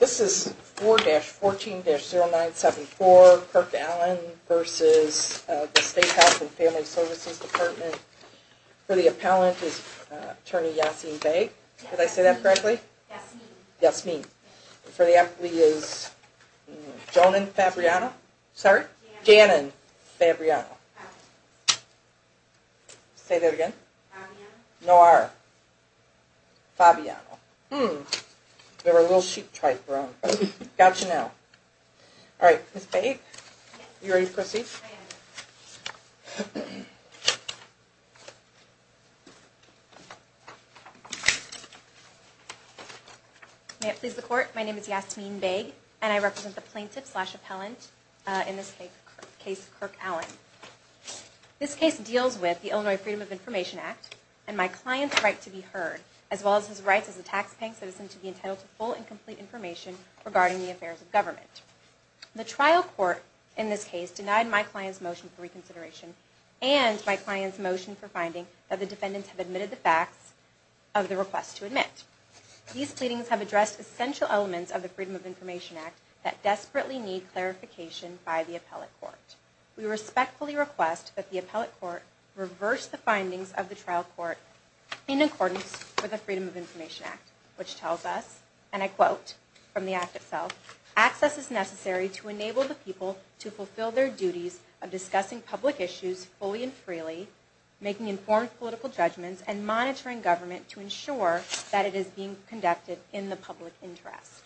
This is 4-14-0974, Kirk Allen versus the State Health and Family Services Department. For the appellant is Attorney Yasmeen Baig. Did I say that correctly? Yasmeen. For the appellee is Jonan Fabriano. Sorry? Janan Fabriano. Say that again? Noir. Fabriano. Hmm. They were a little sheep-type wrong. Gotcha now. Alright, Ms. Baig, are you ready to proceed? I am. May it please the Court, my name is Yasmeen Baig, and I represent the plaintiff slash appellant in this case, Kirk Allen. This case deals with the Illinois Freedom of Information Act and my client's right to be heard, as well as his rights as a taxpaying citizen to be entitled to full and complete information regarding the affairs of government. The trial court in this case denied my client's motion for reconsideration and my client's motion for finding that the defendants have admitted the facts of the request to admit. These pleadings have addressed essential elements of the Freedom of Information Act that desperately need clarification by the appellate court. We respectfully request that the appellate court reverse the findings of the trial court in accordance with the Freedom of Information Act, which tells us, and I quote from the act itself, access is necessary to enable the people to fulfill their duties of discussing public issues fully and freely, making informed political judgments, and monitoring government to ensure that it is being conducted in the public interest.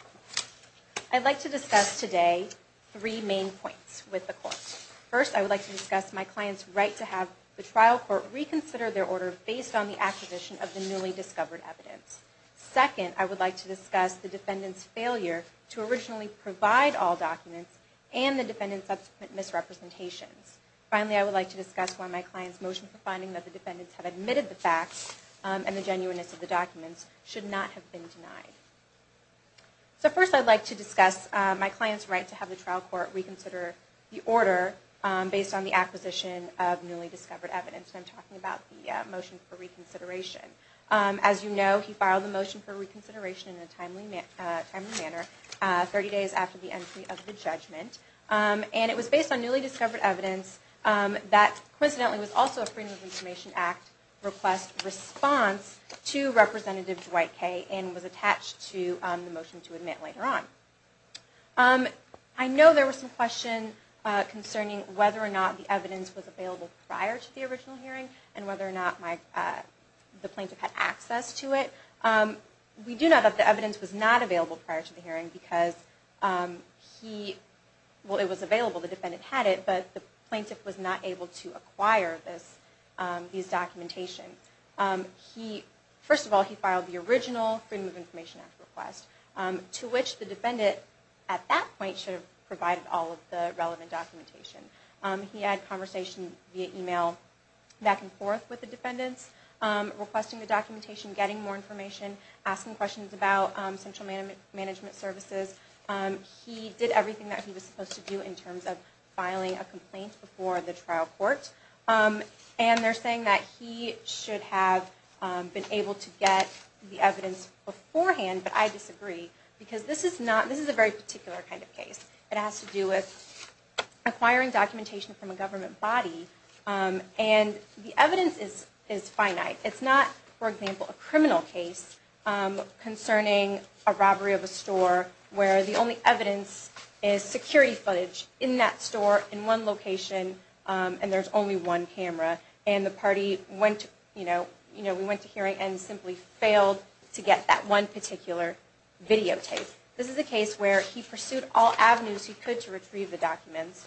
I'd like to discuss today three main points with the court. First, I would like to discuss my client's right to have the trial court reconsider their order based on the acquisition of the newly discovered evidence. Second, I would like to discuss the defendant's failure to originally provide all documents and the defendant's subsequent misrepresentations. Finally, I would like to discuss why my client's motion for finding that the defendants have admitted the facts and the genuineness of the documents should not have been denied. So first I'd like to discuss my client's right to have the trial court reconsider the order based on the acquisition of newly discovered evidence, and I'm talking about the motion for reconsideration. As you know, he filed the motion for reconsideration in a timely manner 30 days after the entry of the judgment, and it was based on newly discovered evidence that coincidentally was also a Freedom of Information Act request response to Representative Dwight Kaye and was attached to the motion to admit later on. I know there were some questions concerning whether or not the evidence was available prior to the original hearing and whether or not the plaintiff had access to it. We do know that the evidence was not available prior to the hearing because he... First of all, he filed the original Freedom of Information Act request, to which the defendant at that point should have provided all of the relevant documentation. He had conversation via email back and forth with the defendants, requesting the documentation, getting more information, asking questions about central management services. He did everything that he was supposed to do in terms of filing a complaint before the trial court, and they're saying that he should have been able to get the evidence beforehand, but I disagree because this is a very particular kind of case. It has to do with acquiring documentation from a government body, and the evidence is finite. It's not, for example, a criminal case concerning a robbery of a store where the only evidence is security footage in that store in one location and there's only one camera, and the party went to hearing and simply failed to get that one particular videotape. This is a case where he pursued all avenues he could to retrieve the documents.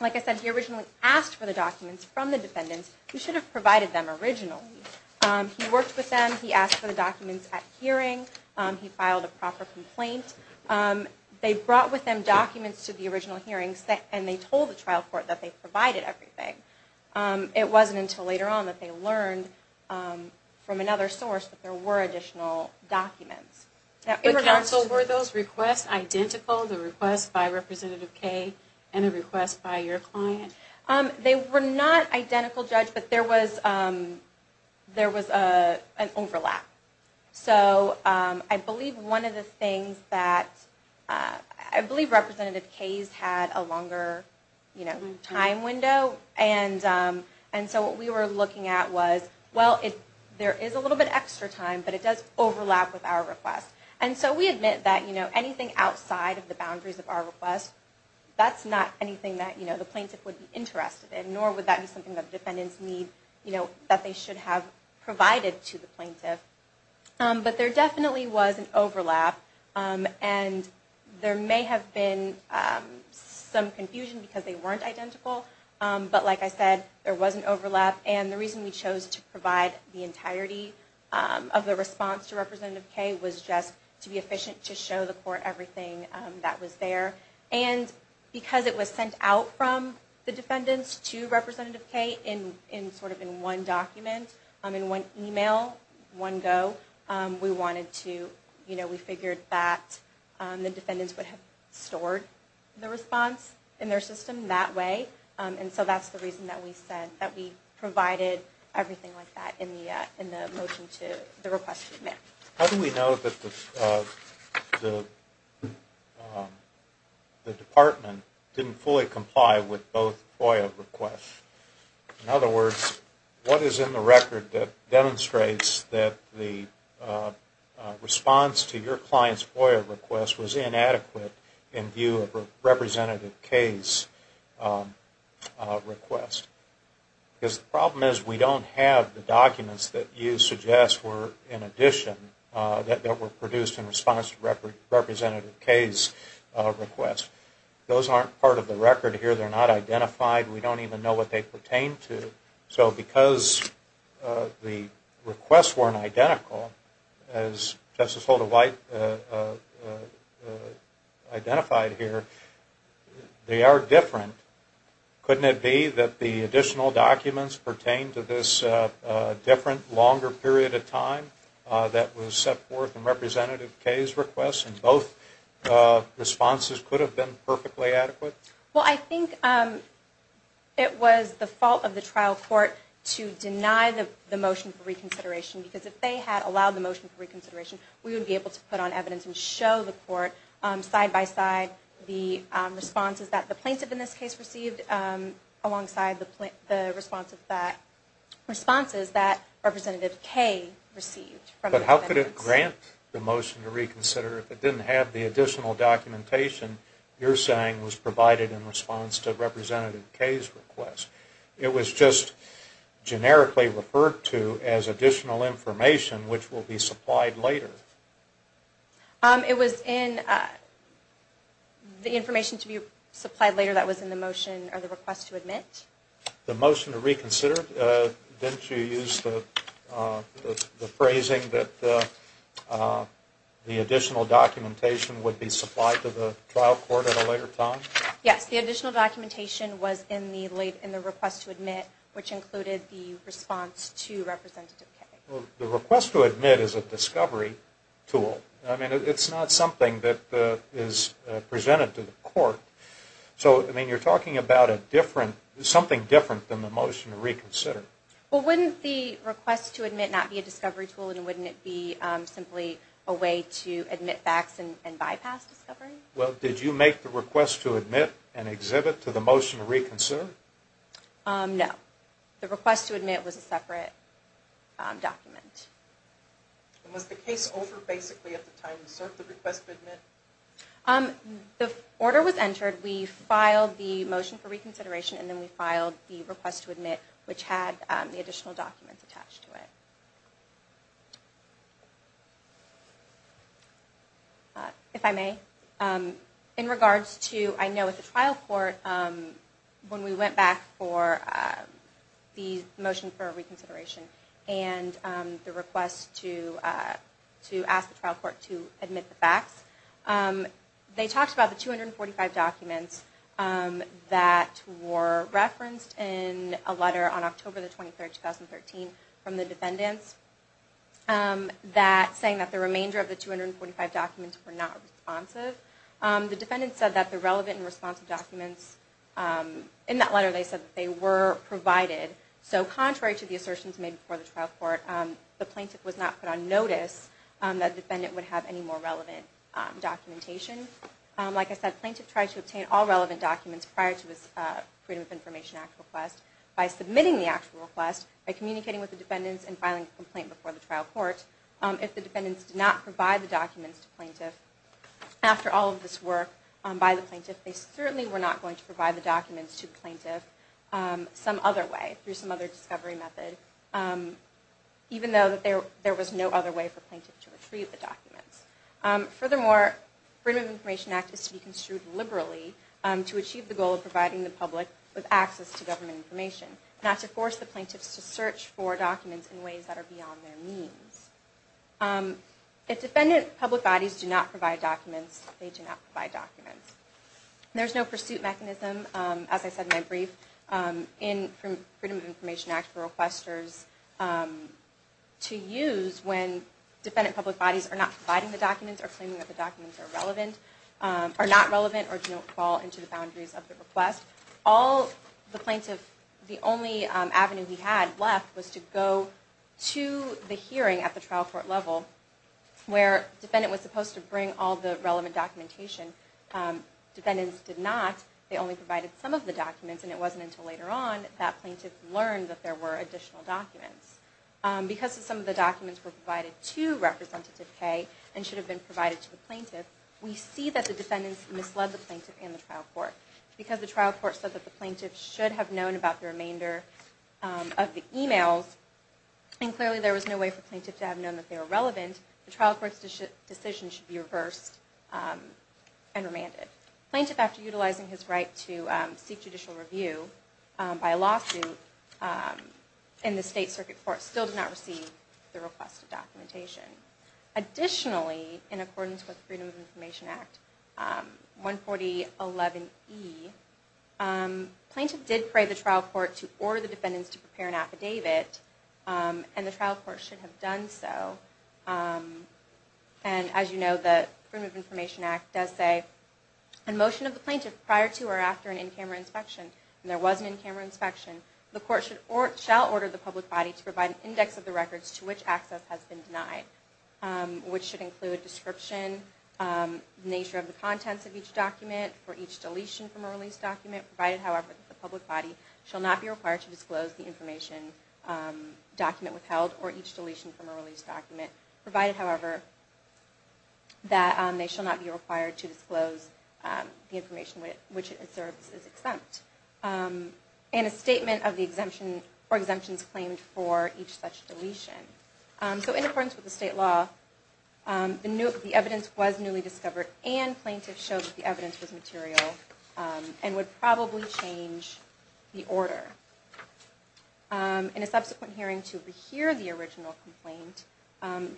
Like I said, he originally asked for the documents from the defendants. He should have provided them originally. He worked with them. He asked for the documents at hearing. He filed a proper complaint. They brought with them documents to the original hearings, and they told the trial court that they provided everything. It wasn't until later on that they learned from another source that there were additional documents. Were those requests identical, the request by Representative Kaye and a request by your client? They were not identical, Judge, but there was an overlap. I believe Representative Kaye's had a longer time window, and so what we were looking at was, well, there is a little bit of extra time, but it does overlap with our request. We admit that anything outside of the boundaries of our request, that's not anything that the plaintiff would be interested in, nor would that be something that the defendants need that they should have provided to the plaintiff. But there definitely was an overlap, and there may have been some confusion because they weren't identical, but like I said, there was an overlap, and the reason we chose to provide the entirety of the response to Representative Kaye was just to be efficient to show the court everything that was there. And because it was sent out from the defendants to Representative Kaye in sort of in one document, in one email, one go, we figured that the defendants would have stored the response in their system that way, and so that's the reason that we said that we provided everything like that in the motion to the request to be made. How do we know that the department didn't fully comply with both FOIA requests? In other words, what is in the record that demonstrates that the response to your client's FOIA request was inadequate in view of Representative Kaye's request? Because the problem is we don't have the documents that you suggest were in addition, that were produced in response to Representative Kaye's request. Those aren't part of the record here. They're not identified. We don't even know what they pertain to. So because the requests weren't identical, as Justice Holder White identified here, they are different. Couldn't it be that the additional documents pertain to this different, longer period of time that was set forth in Representative Kaye's request, and both responses could have been perfectly adequate? Well, I think it was the fault of the trial court to deny the motion for reconsideration, because if they had allowed the motion for reconsideration, we would be able to put on evidence and show the court side-by-side the responses that the plaintiff in this case received, alongside the responses that Representative Kaye received. But how could it grant the motion to reconsider if it didn't have the additional documentation you're saying was provided in response to Representative Kaye's request? It was just generically referred to as additional information, which will be supplied later. It was in the information to be supplied later that was in the motion or the request to admit. The motion to reconsider? Didn't you use the phrasing that the additional documentation would be supplied to the trial court at a later time? Yes. The additional documentation was in the request to admit, which included the response to Representative Kaye. The request to admit is a discovery tool. I mean, it's not something that is presented to the court. So, I mean, you're talking about something different than the motion to reconsider. Well, wouldn't the request to admit not be a discovery tool, and wouldn't it be simply a way to admit facts and bypass discovery? Well, did you make the request to admit an exhibit to the motion to reconsider? No. The request to admit was a separate document. And was the case over basically at the time you served the request to admit? The order was entered, we filed the motion for reconsideration, and then we filed the request to admit, which had the additional documents attached to it. If I may. In regards to, I know at the trial court, when we went back for the motion for reconsideration and the request to ask the trial court to admit the facts, they talked about the 245 documents that were referenced in a letter on October 23, 2013, from the defendants, saying that the remainder of the 245 documents were not responsive. The defendants said that the relevant and responsive documents, in that letter they said that they were provided. So, contrary to the assertions made before the trial court, the plaintiff was not put on notice that the defendant would have any more relevant documentation. Like I said, the plaintiff tried to obtain all relevant documents prior to his Freedom of Information Act request by submitting the actual request, by communicating with the defendants, and filing a complaint before the trial court. If the defendants did not provide the documents to the plaintiff after all of this work by the plaintiff, they certainly were not going to provide the documents to the plaintiff some other way, through some other discovery method, even though there was no other way for the plaintiff to retrieve the documents. Furthermore, the Freedom of Information Act is to be construed liberally to achieve the goal of providing the public with access to government information, not to force the plaintiffs to search for documents in ways that are beyond their means. If defendant public bodies do not provide documents, they do not provide documents. There is no pursuit mechanism, as I said in my brief, in the Freedom of Information Act for requesters to use when defendant public bodies are not providing the documents, or claiming that the documents are not relevant, or do not fall into the boundaries of the request. The only avenue the plaintiff had left was to go to the hearing at the trial court level, where the defendant was supposed to bring all the relevant documentation. Defendants did not. They only provided some of the documents, and it wasn't until later on that the plaintiff learned that there were additional documents. Because some of the documents were provided to Representative Kaye, and should have been provided to the plaintiff, we see that the defendants misled the plaintiff and the trial court. Because the trial court said that the plaintiff should have known about the remainder of the emails, and clearly there was no way for the plaintiff to have known that they were relevant, the trial court's decision should be reversed and remanded. Plaintiff, after utilizing his right to seek judicial review by lawsuit in the State Circuit Court, still did not receive the requested documentation. Additionally, in accordance with Freedom of Information Act 14011E, plaintiff did pray the trial court to order the defendants to prepare an affidavit, and the trial court should have done so. As you know, the Freedom of Information Act does say, in motion of the plaintiff, prior to or after an in-camera inspection, and there was an in-camera inspection, the court shall order the public body to provide an index of the records to which access has been denied, which should include a description, the nature of the contents of each document, for each deletion from a release document, provided, however, that the public body shall not be required to disclose the information document withheld, or each deletion from a release document, provided, however, that they shall not be required to disclose the information which it asserts is exempt, and a statement of the exemption or exemptions claimed for each such deletion. So in accordance with the state law, the evidence was newly discovered, and plaintiff showed that the evidence was material and would probably change the order. In a subsequent hearing to rehear the original complaint,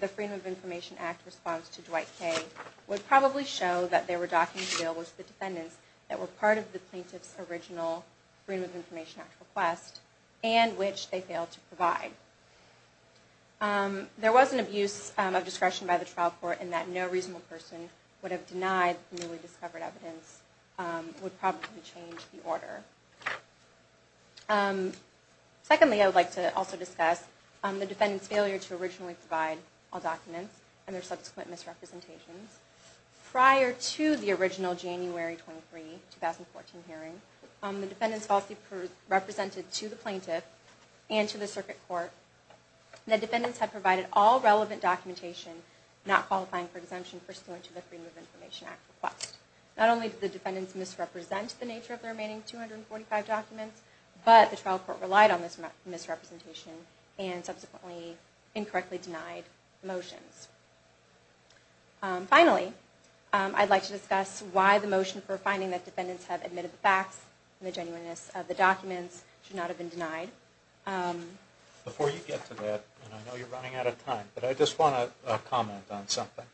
the Freedom of Information Act response to Dwight K. would probably show that there were documents available to the defendants that were part of the plaintiff's original Freedom of Information Act request, and which they failed to provide. There was an abuse of discretion by the trial court, in that no reasonable person would have denied the newly discovered evidence, would probably change the order. Secondly, I would like to also discuss the defendant's failure to originally provide all documents and their subsequent misrepresentations. Prior to the original January 23, 2014 hearing, the defendant's policy represented to the plaintiff and to the circuit court that defendants had provided all relevant documentation not qualifying for exemption pursuant to the Freedom of Information Act request. Not only did the defendants misrepresent the nature of the remaining 245 documents, but the trial court relied on this misrepresentation, and subsequently incorrectly denied the motions. Finally, I'd like to discuss why the motion for finding that defendants have admitted the facts and the genuineness of the documents should not have been denied. Before you get to that, and I know you're running out of time, but I just want to comment on something.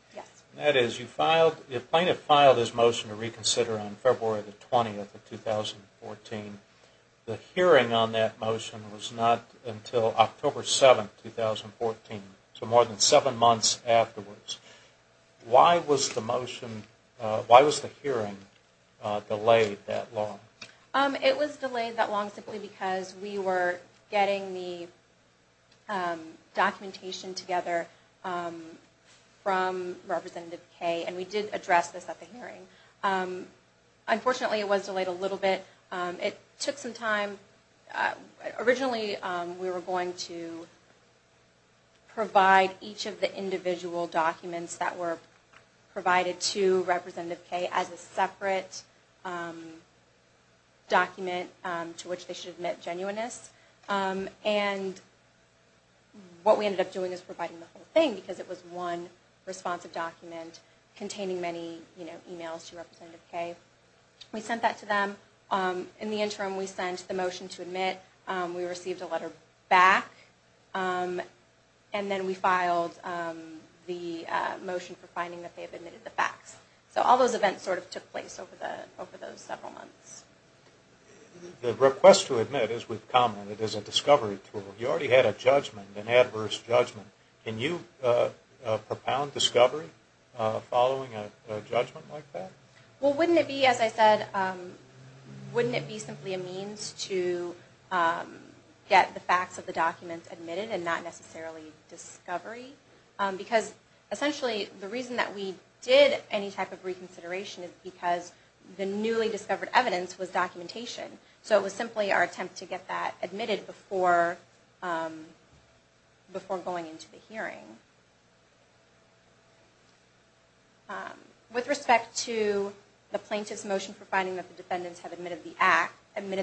The plaintiff filed his motion to reconsider on February 20, 2014. The hearing on that motion was not until October 7, 2014, so more than seven months afterwards. Why was the hearing delayed that long? It was delayed that long simply because we were getting the documentation together from Representative Kaye, and we did address this at the hearing. Unfortunately, it was delayed a little bit. It took some time. Originally, we were going to provide each of the individual documents that were provided to Representative Kaye as a separate document to which they should admit genuineness. What we ended up doing is providing the whole thing because it was one responsive document containing many emails to Representative Kaye. We sent that to them. In the interim, we sent the motion to admit. We received a letter back, and then we filed the motion for finding that they have admitted the facts. All those events took place over those several months. The request to admit, as we've commented, is a discovery tool. You already had a judgment, an adverse judgment. Can you propound discovery following a judgment like that? Wouldn't it be, as I said, simply a means to get the facts of the documents admitted and not necessarily discovery? Essentially, the reason that we did any type of reconsideration is because the newly discovered evidence was documentation. It was simply our attempt to get that admitted before going into the hearing. With respect to the plaintiff's motion for finding that the defendants have admitted the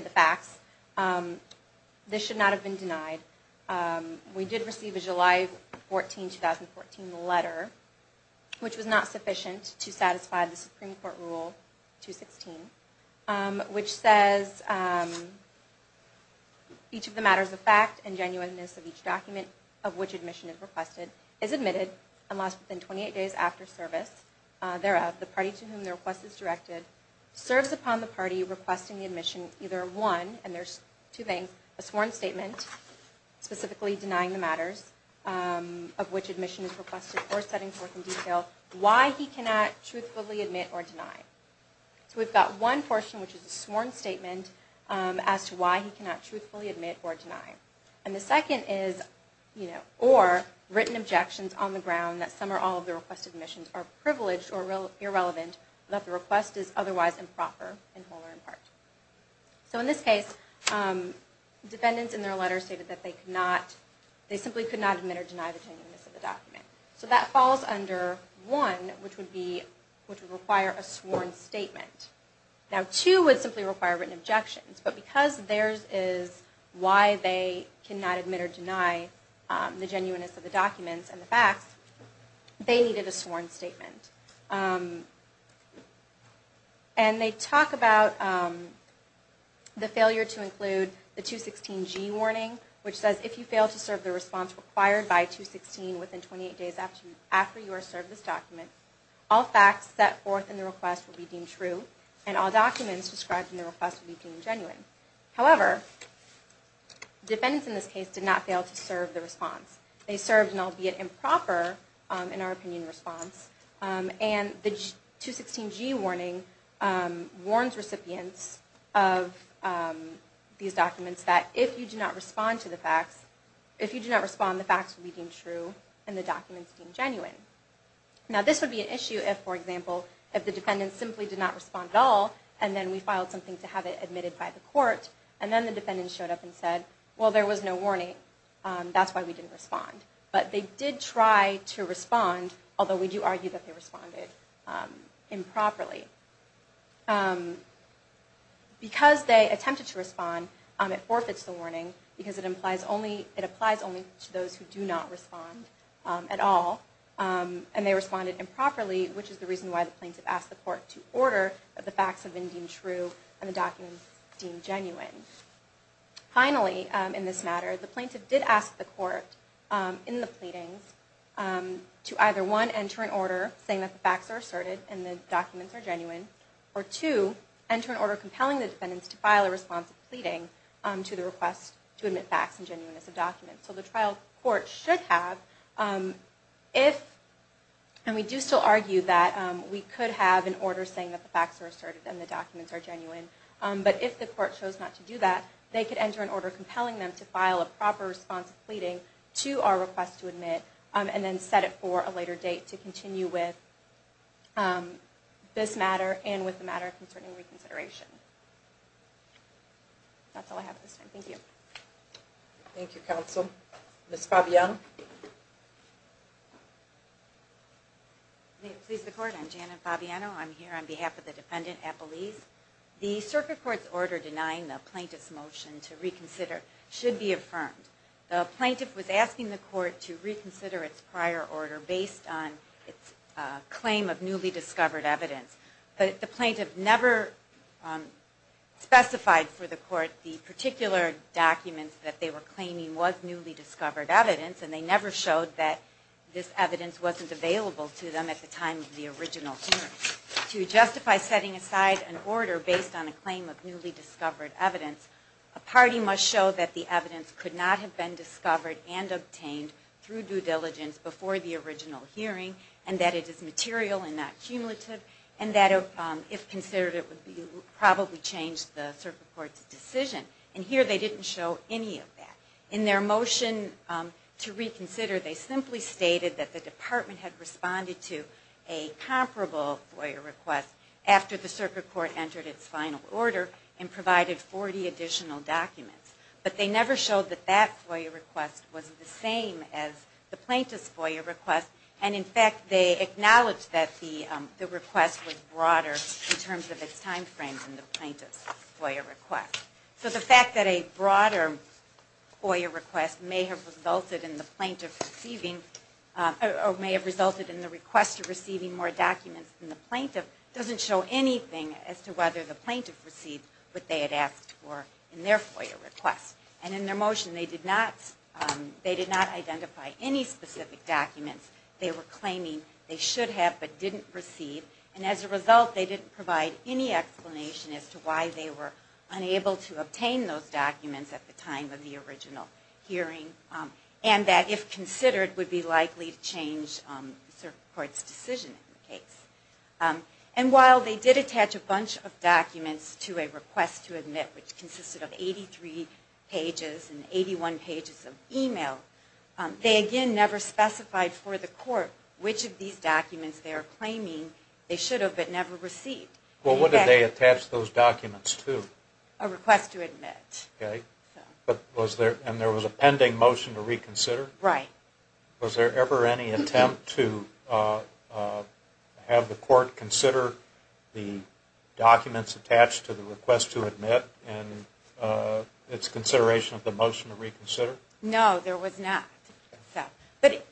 facts, this should not have been denied. We did receive a July 14, 2014 letter, which was not sufficient to satisfy the Supreme Court rule 216. Which says, each of the matters of fact and genuineness of each document of which admission is requested is admitted and lost within 28 days after service. Thereof, the party to whom the request is directed serves upon the party requesting the admission either of one, and there's two things, a sworn statement, specifically denying the matters of which admission is requested or setting forth in detail why he cannot truthfully admit or deny. So we've got one portion, which is a sworn statement as to why he cannot truthfully admit or deny. And the second is, or written objections on the ground that some or all of the requested admissions are privileged or irrelevant, that the request is otherwise improper in whole or in part. So in this case, defendants in their letter stated that they simply could not admit or deny the genuineness of the document. So that falls under one, which would require a sworn statement. Now two would simply require written objections, but because theirs is why they cannot admit or deny the genuineness of the documents and the facts, they needed a sworn statement. And they talk about the failure to include the 216G warning, which says if you fail to serve the response required by 216 within 28 days after you are served this document, all facts set forth in the request will be deemed true, and all documents described in the request will be deemed genuine. However, defendants in this case did not fail to serve the response. They served an albeit improper, in our opinion, response. And the 216G warning warns recipients of these documents that if you do not respond to the facts, if you do not respond, the facts will be deemed true and the documents deemed genuine. Now this would be an issue if, for example, if the defendants simply did not respond at all and then we filed something to have it admitted by the court, and then the defendants showed up and said, well, there was no warning. That's why we didn't respond. But they did try to respond, although we do argue that they responded improperly. Because they attempted to respond, it forfeits the warning, because it applies only to those who do not respond at all, and they responded improperly, which is the reason why the plaintiff asked the court to order that the facts have been deemed true and the documents deemed genuine. Finally, in this matter, the plaintiff did ask the court in the pleadings to either, one, enter an order saying that the facts are asserted and the documents are genuine, or two, enter an order compelling the defendants to file a response of pleading to the request to admit facts and genuineness of documents. So the trial court should have, if, and we do still argue that we could have an order saying that the facts are asserted and the documents are genuine, but if the court chose not to do that, they could enter an order compelling them to file a proper response of pleading to our request to admit, and then set it for a later date to continue with this matter and with the matter concerning reconsideration. That's all I have at this time. Thank you. Thank you, counsel. Ms. Fabiano? May it please the court, I'm Janet Fabiano. I'm here on behalf of the defendant, Apolise. The circuit court's order denying the plaintiff's motion to reconsider should be affirmed. The plaintiff was asking the court to reconsider its prior order based on its claim of newly discovered evidence, but the plaintiff never specified for the court the particular documents that they were claiming was newly discovered evidence, and they never showed that this evidence wasn't available to them at the time of the original hearing. To justify setting aside an order based on a claim of newly discovered evidence, a party must show that the evidence could not have been discovered and obtained through due diligence before the original hearing, and that it is material and not cumulative, and that if considered it would probably change the circuit court's decision. And here they didn't show any of that. In their motion to reconsider, they simply stated that the department had responded to a comparable FOIA request after the circuit court entered its final order and provided 40 additional documents. But they never showed that that FOIA request was the same as the plaintiff's FOIA request, and in fact they acknowledged that the request was broader in terms of its time frame than the plaintiff's FOIA request. So the fact that a broader FOIA request may have resulted in the plaintiff receiving, or may have resulted in the requester receiving more documents than the plaintiff, doesn't show anything as to whether the plaintiff received what they had asked for in their FOIA request. And in their motion they did not identify any specific documents they were claiming they should have but didn't receive, and as a result they didn't provide any explanation as to why they were unable to obtain those documents at the time of the original hearing, and that if considered would be likely to change the circuit court's decision in the case. And while they did attach a bunch of documents to a request to admit, which consisted of 83 pages and 81 pages of email, they again never specified for the court which of these documents they are claiming they should have but never received. Well, what did they attach those documents to? A request to admit. And there was a pending motion to reconsider? Right. Was there ever any attempt to have the court consider the documents attached to the request to admit in its consideration of the motion to reconsider? No, there was not. But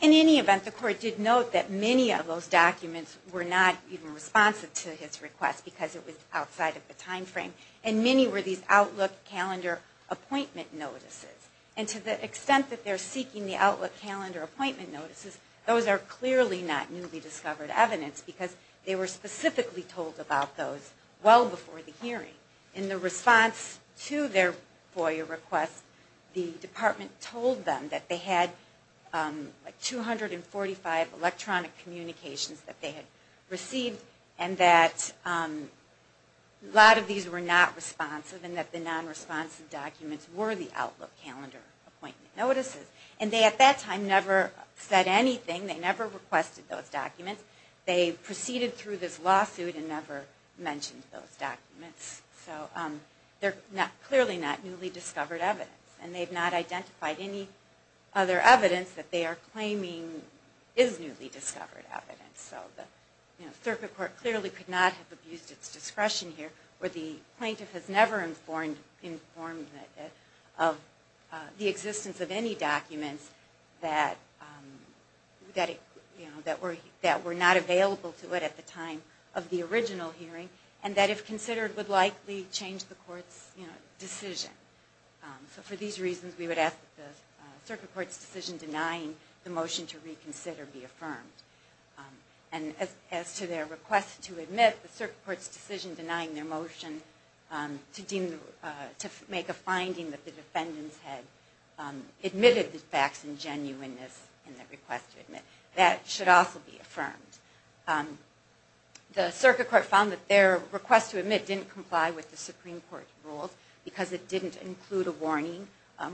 in any event, the court did note that many of those documents were not even responsive to his request because it was outside of the time frame, and many were these outlook calendar appointment notices. And to the extent that they're seeking the outlook calendar appointment notices, those are clearly not newly discovered evidence because they were specifically told about those well before the hearing. In the response to their FOIA request, the department told them that they had 245 electronic communications that they had received, and that a lot of these were not responsive and that the non-responsive documents were the outlook calendar appointment notices. And they at that time never said anything. They never requested those documents. They proceeded through this lawsuit and never mentioned those documents. So they're clearly not newly discovered evidence, and they've not identified any other evidence that they are claiming is newly discovered evidence. So the circuit court clearly could not have abused its discretion here where the plaintiff has never informed of the existence of any documents that were not available to it at the time of the original hearing and that if considered would likely change the court's decision. So for these reasons, we would ask that the circuit court's decision denying the motion to reconsider be affirmed. And as to their request to admit, the circuit court's decision denying their motion to make a finding that the defendants had admitted the facts and genuineness in their request to admit, that should also be affirmed. The circuit court found that their request to admit didn't comply with the Supreme Court rules because it didn't include a warning.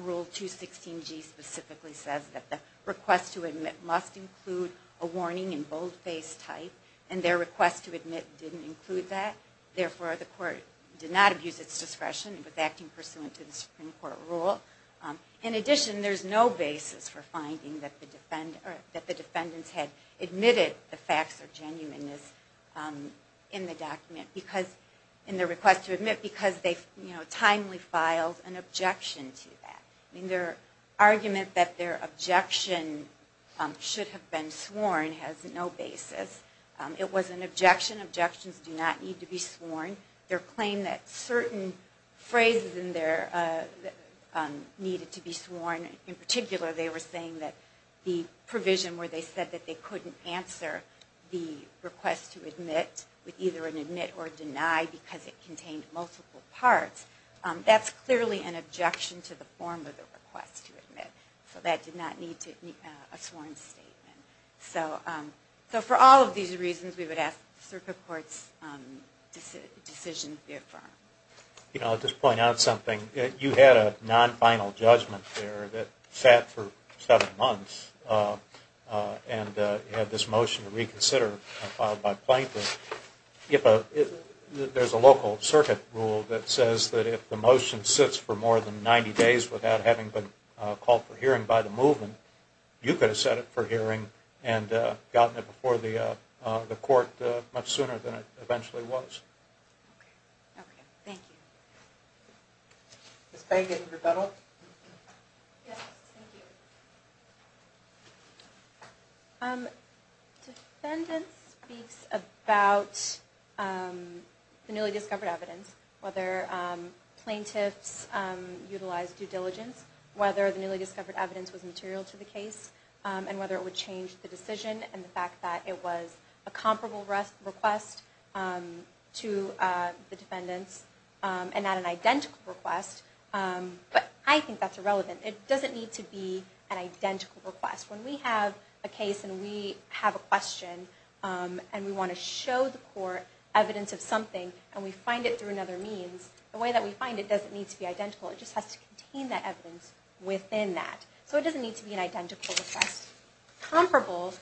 Rule 216G specifically says that the request to admit must include a warning in boldface type, and their request to admit didn't include that. Therefore, the court did not abuse its discretion with acting pursuant to the Supreme Court rule. In addition, there's no basis for finding that the defendants had admitted the facts or genuineness in the document in their request to admit because they timely filed an objection to that. Their argument that their objection should have been sworn has no basis. It was an objection. Objections do not need to be sworn. Their claim that certain phrases in there needed to be sworn, in particular they were saying that the provision where they said that they couldn't answer the request to admit with either an admit or deny because it contained multiple parts, that's clearly an objection to the form of the request to admit. So that did not need a sworn statement. So for all of these reasons, we would ask that the circuit court's decision be affirmed. I'll just point out something. You had a non-final judgment there that sat for seven months and you had this motion to reconsider filed by plaintiff. There's a local circuit rule that says that if the motion sits for more than 90 days without having been called for hearing by the movement, you could have set it for hearing and gotten it before the court much sooner than it eventually was. Okay. Thank you. Ms. Payne, did you have a rebuttal? Yes. Thank you. Defendant speaks about the newly discovered evidence, whether plaintiffs utilized due diligence, whether the newly discovered evidence was material to the case, and whether it would change the decision and the fact that it was a comparable request to the defendant's and not an identical request. But I think that's irrelevant. It doesn't need to be an identical request. When we have a case and we have a question and we want to show the court evidence of something and we find it through another means, the way that we find it doesn't need to be identical. It just has to contain that evidence within that. So it doesn't need to be an identical request. Comparable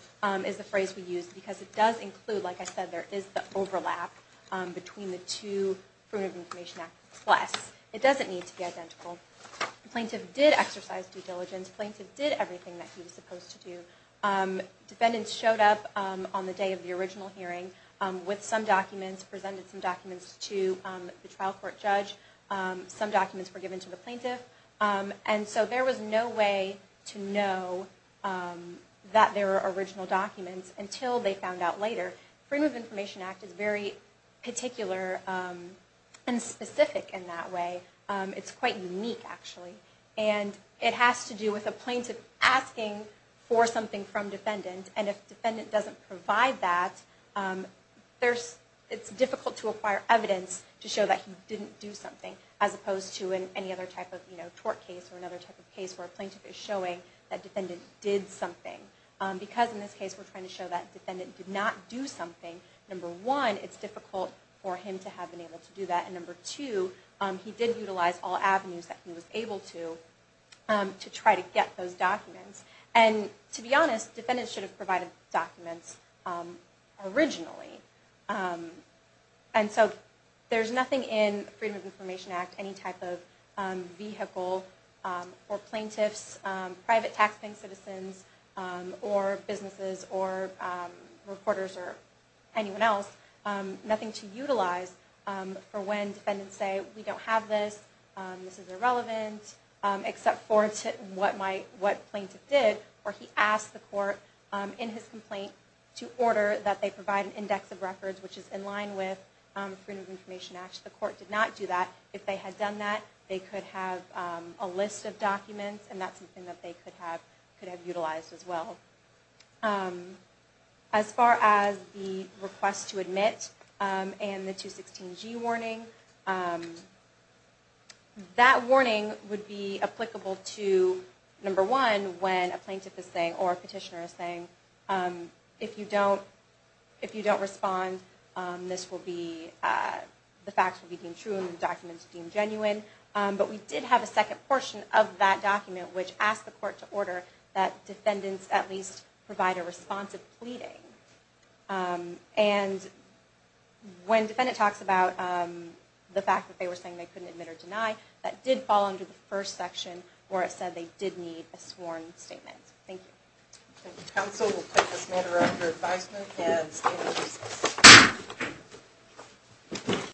is the phrase we use because it does include, like I said, there is the overlap between the two Freedom of Information Act requests. It doesn't need to be identical. The plaintiff did exercise due diligence. The plaintiff did everything that he was supposed to do. Defendants showed up on the day of the original hearing with some documents, presented some documents to the trial court judge. Some documents were given to the plaintiff. And so there was no way to know that there were original documents until they found out later. Freedom of Information Act is very particular and specific in that way. It's quite unique, actually. And it has to do with a plaintiff asking for something from defendant. And if defendant doesn't provide that, it's difficult to acquire evidence to show that he didn't do something, as opposed to in any other type of tort case or another type of case where a plaintiff is showing that defendant did something. Because in this case we're trying to show that defendant did not do something. Number one, it's difficult for him to have been able to do that. And number two, he did utilize all avenues that he was able to to try to get those documents. And to be honest, defendants should have provided documents originally. And so there's nothing in Freedom of Information Act, any type of vehicle for plaintiffs, private taxpaying citizens or businesses or reporters or anyone else, nothing to utilize for when defendants say, we don't have this, this is irrelevant, except for what plaintiff did, or he asked the court in his complaint to order that they provide an index of records which is in line with Freedom of Information Act. The court did not do that. If they had done that, they could have a list of documents and that's something that they could have utilized as well. As far as the request to admit and the 216G warning, that warning would be applicable to, number one, when a plaintiff is saying, or a petitioner is saying, if you don't respond, this will be, the facts will be deemed true and the documents deemed genuine. But we did have a second portion of that document which asked the court to order that defendants at least provide a responsive pleading. And when defendant talks about the fact that they were saying they couldn't admit or deny, that did fall under the first section where it said they did need a sworn statement. Thank you. Thank you, counsel. We'll take this matter under advisement and stand in recess.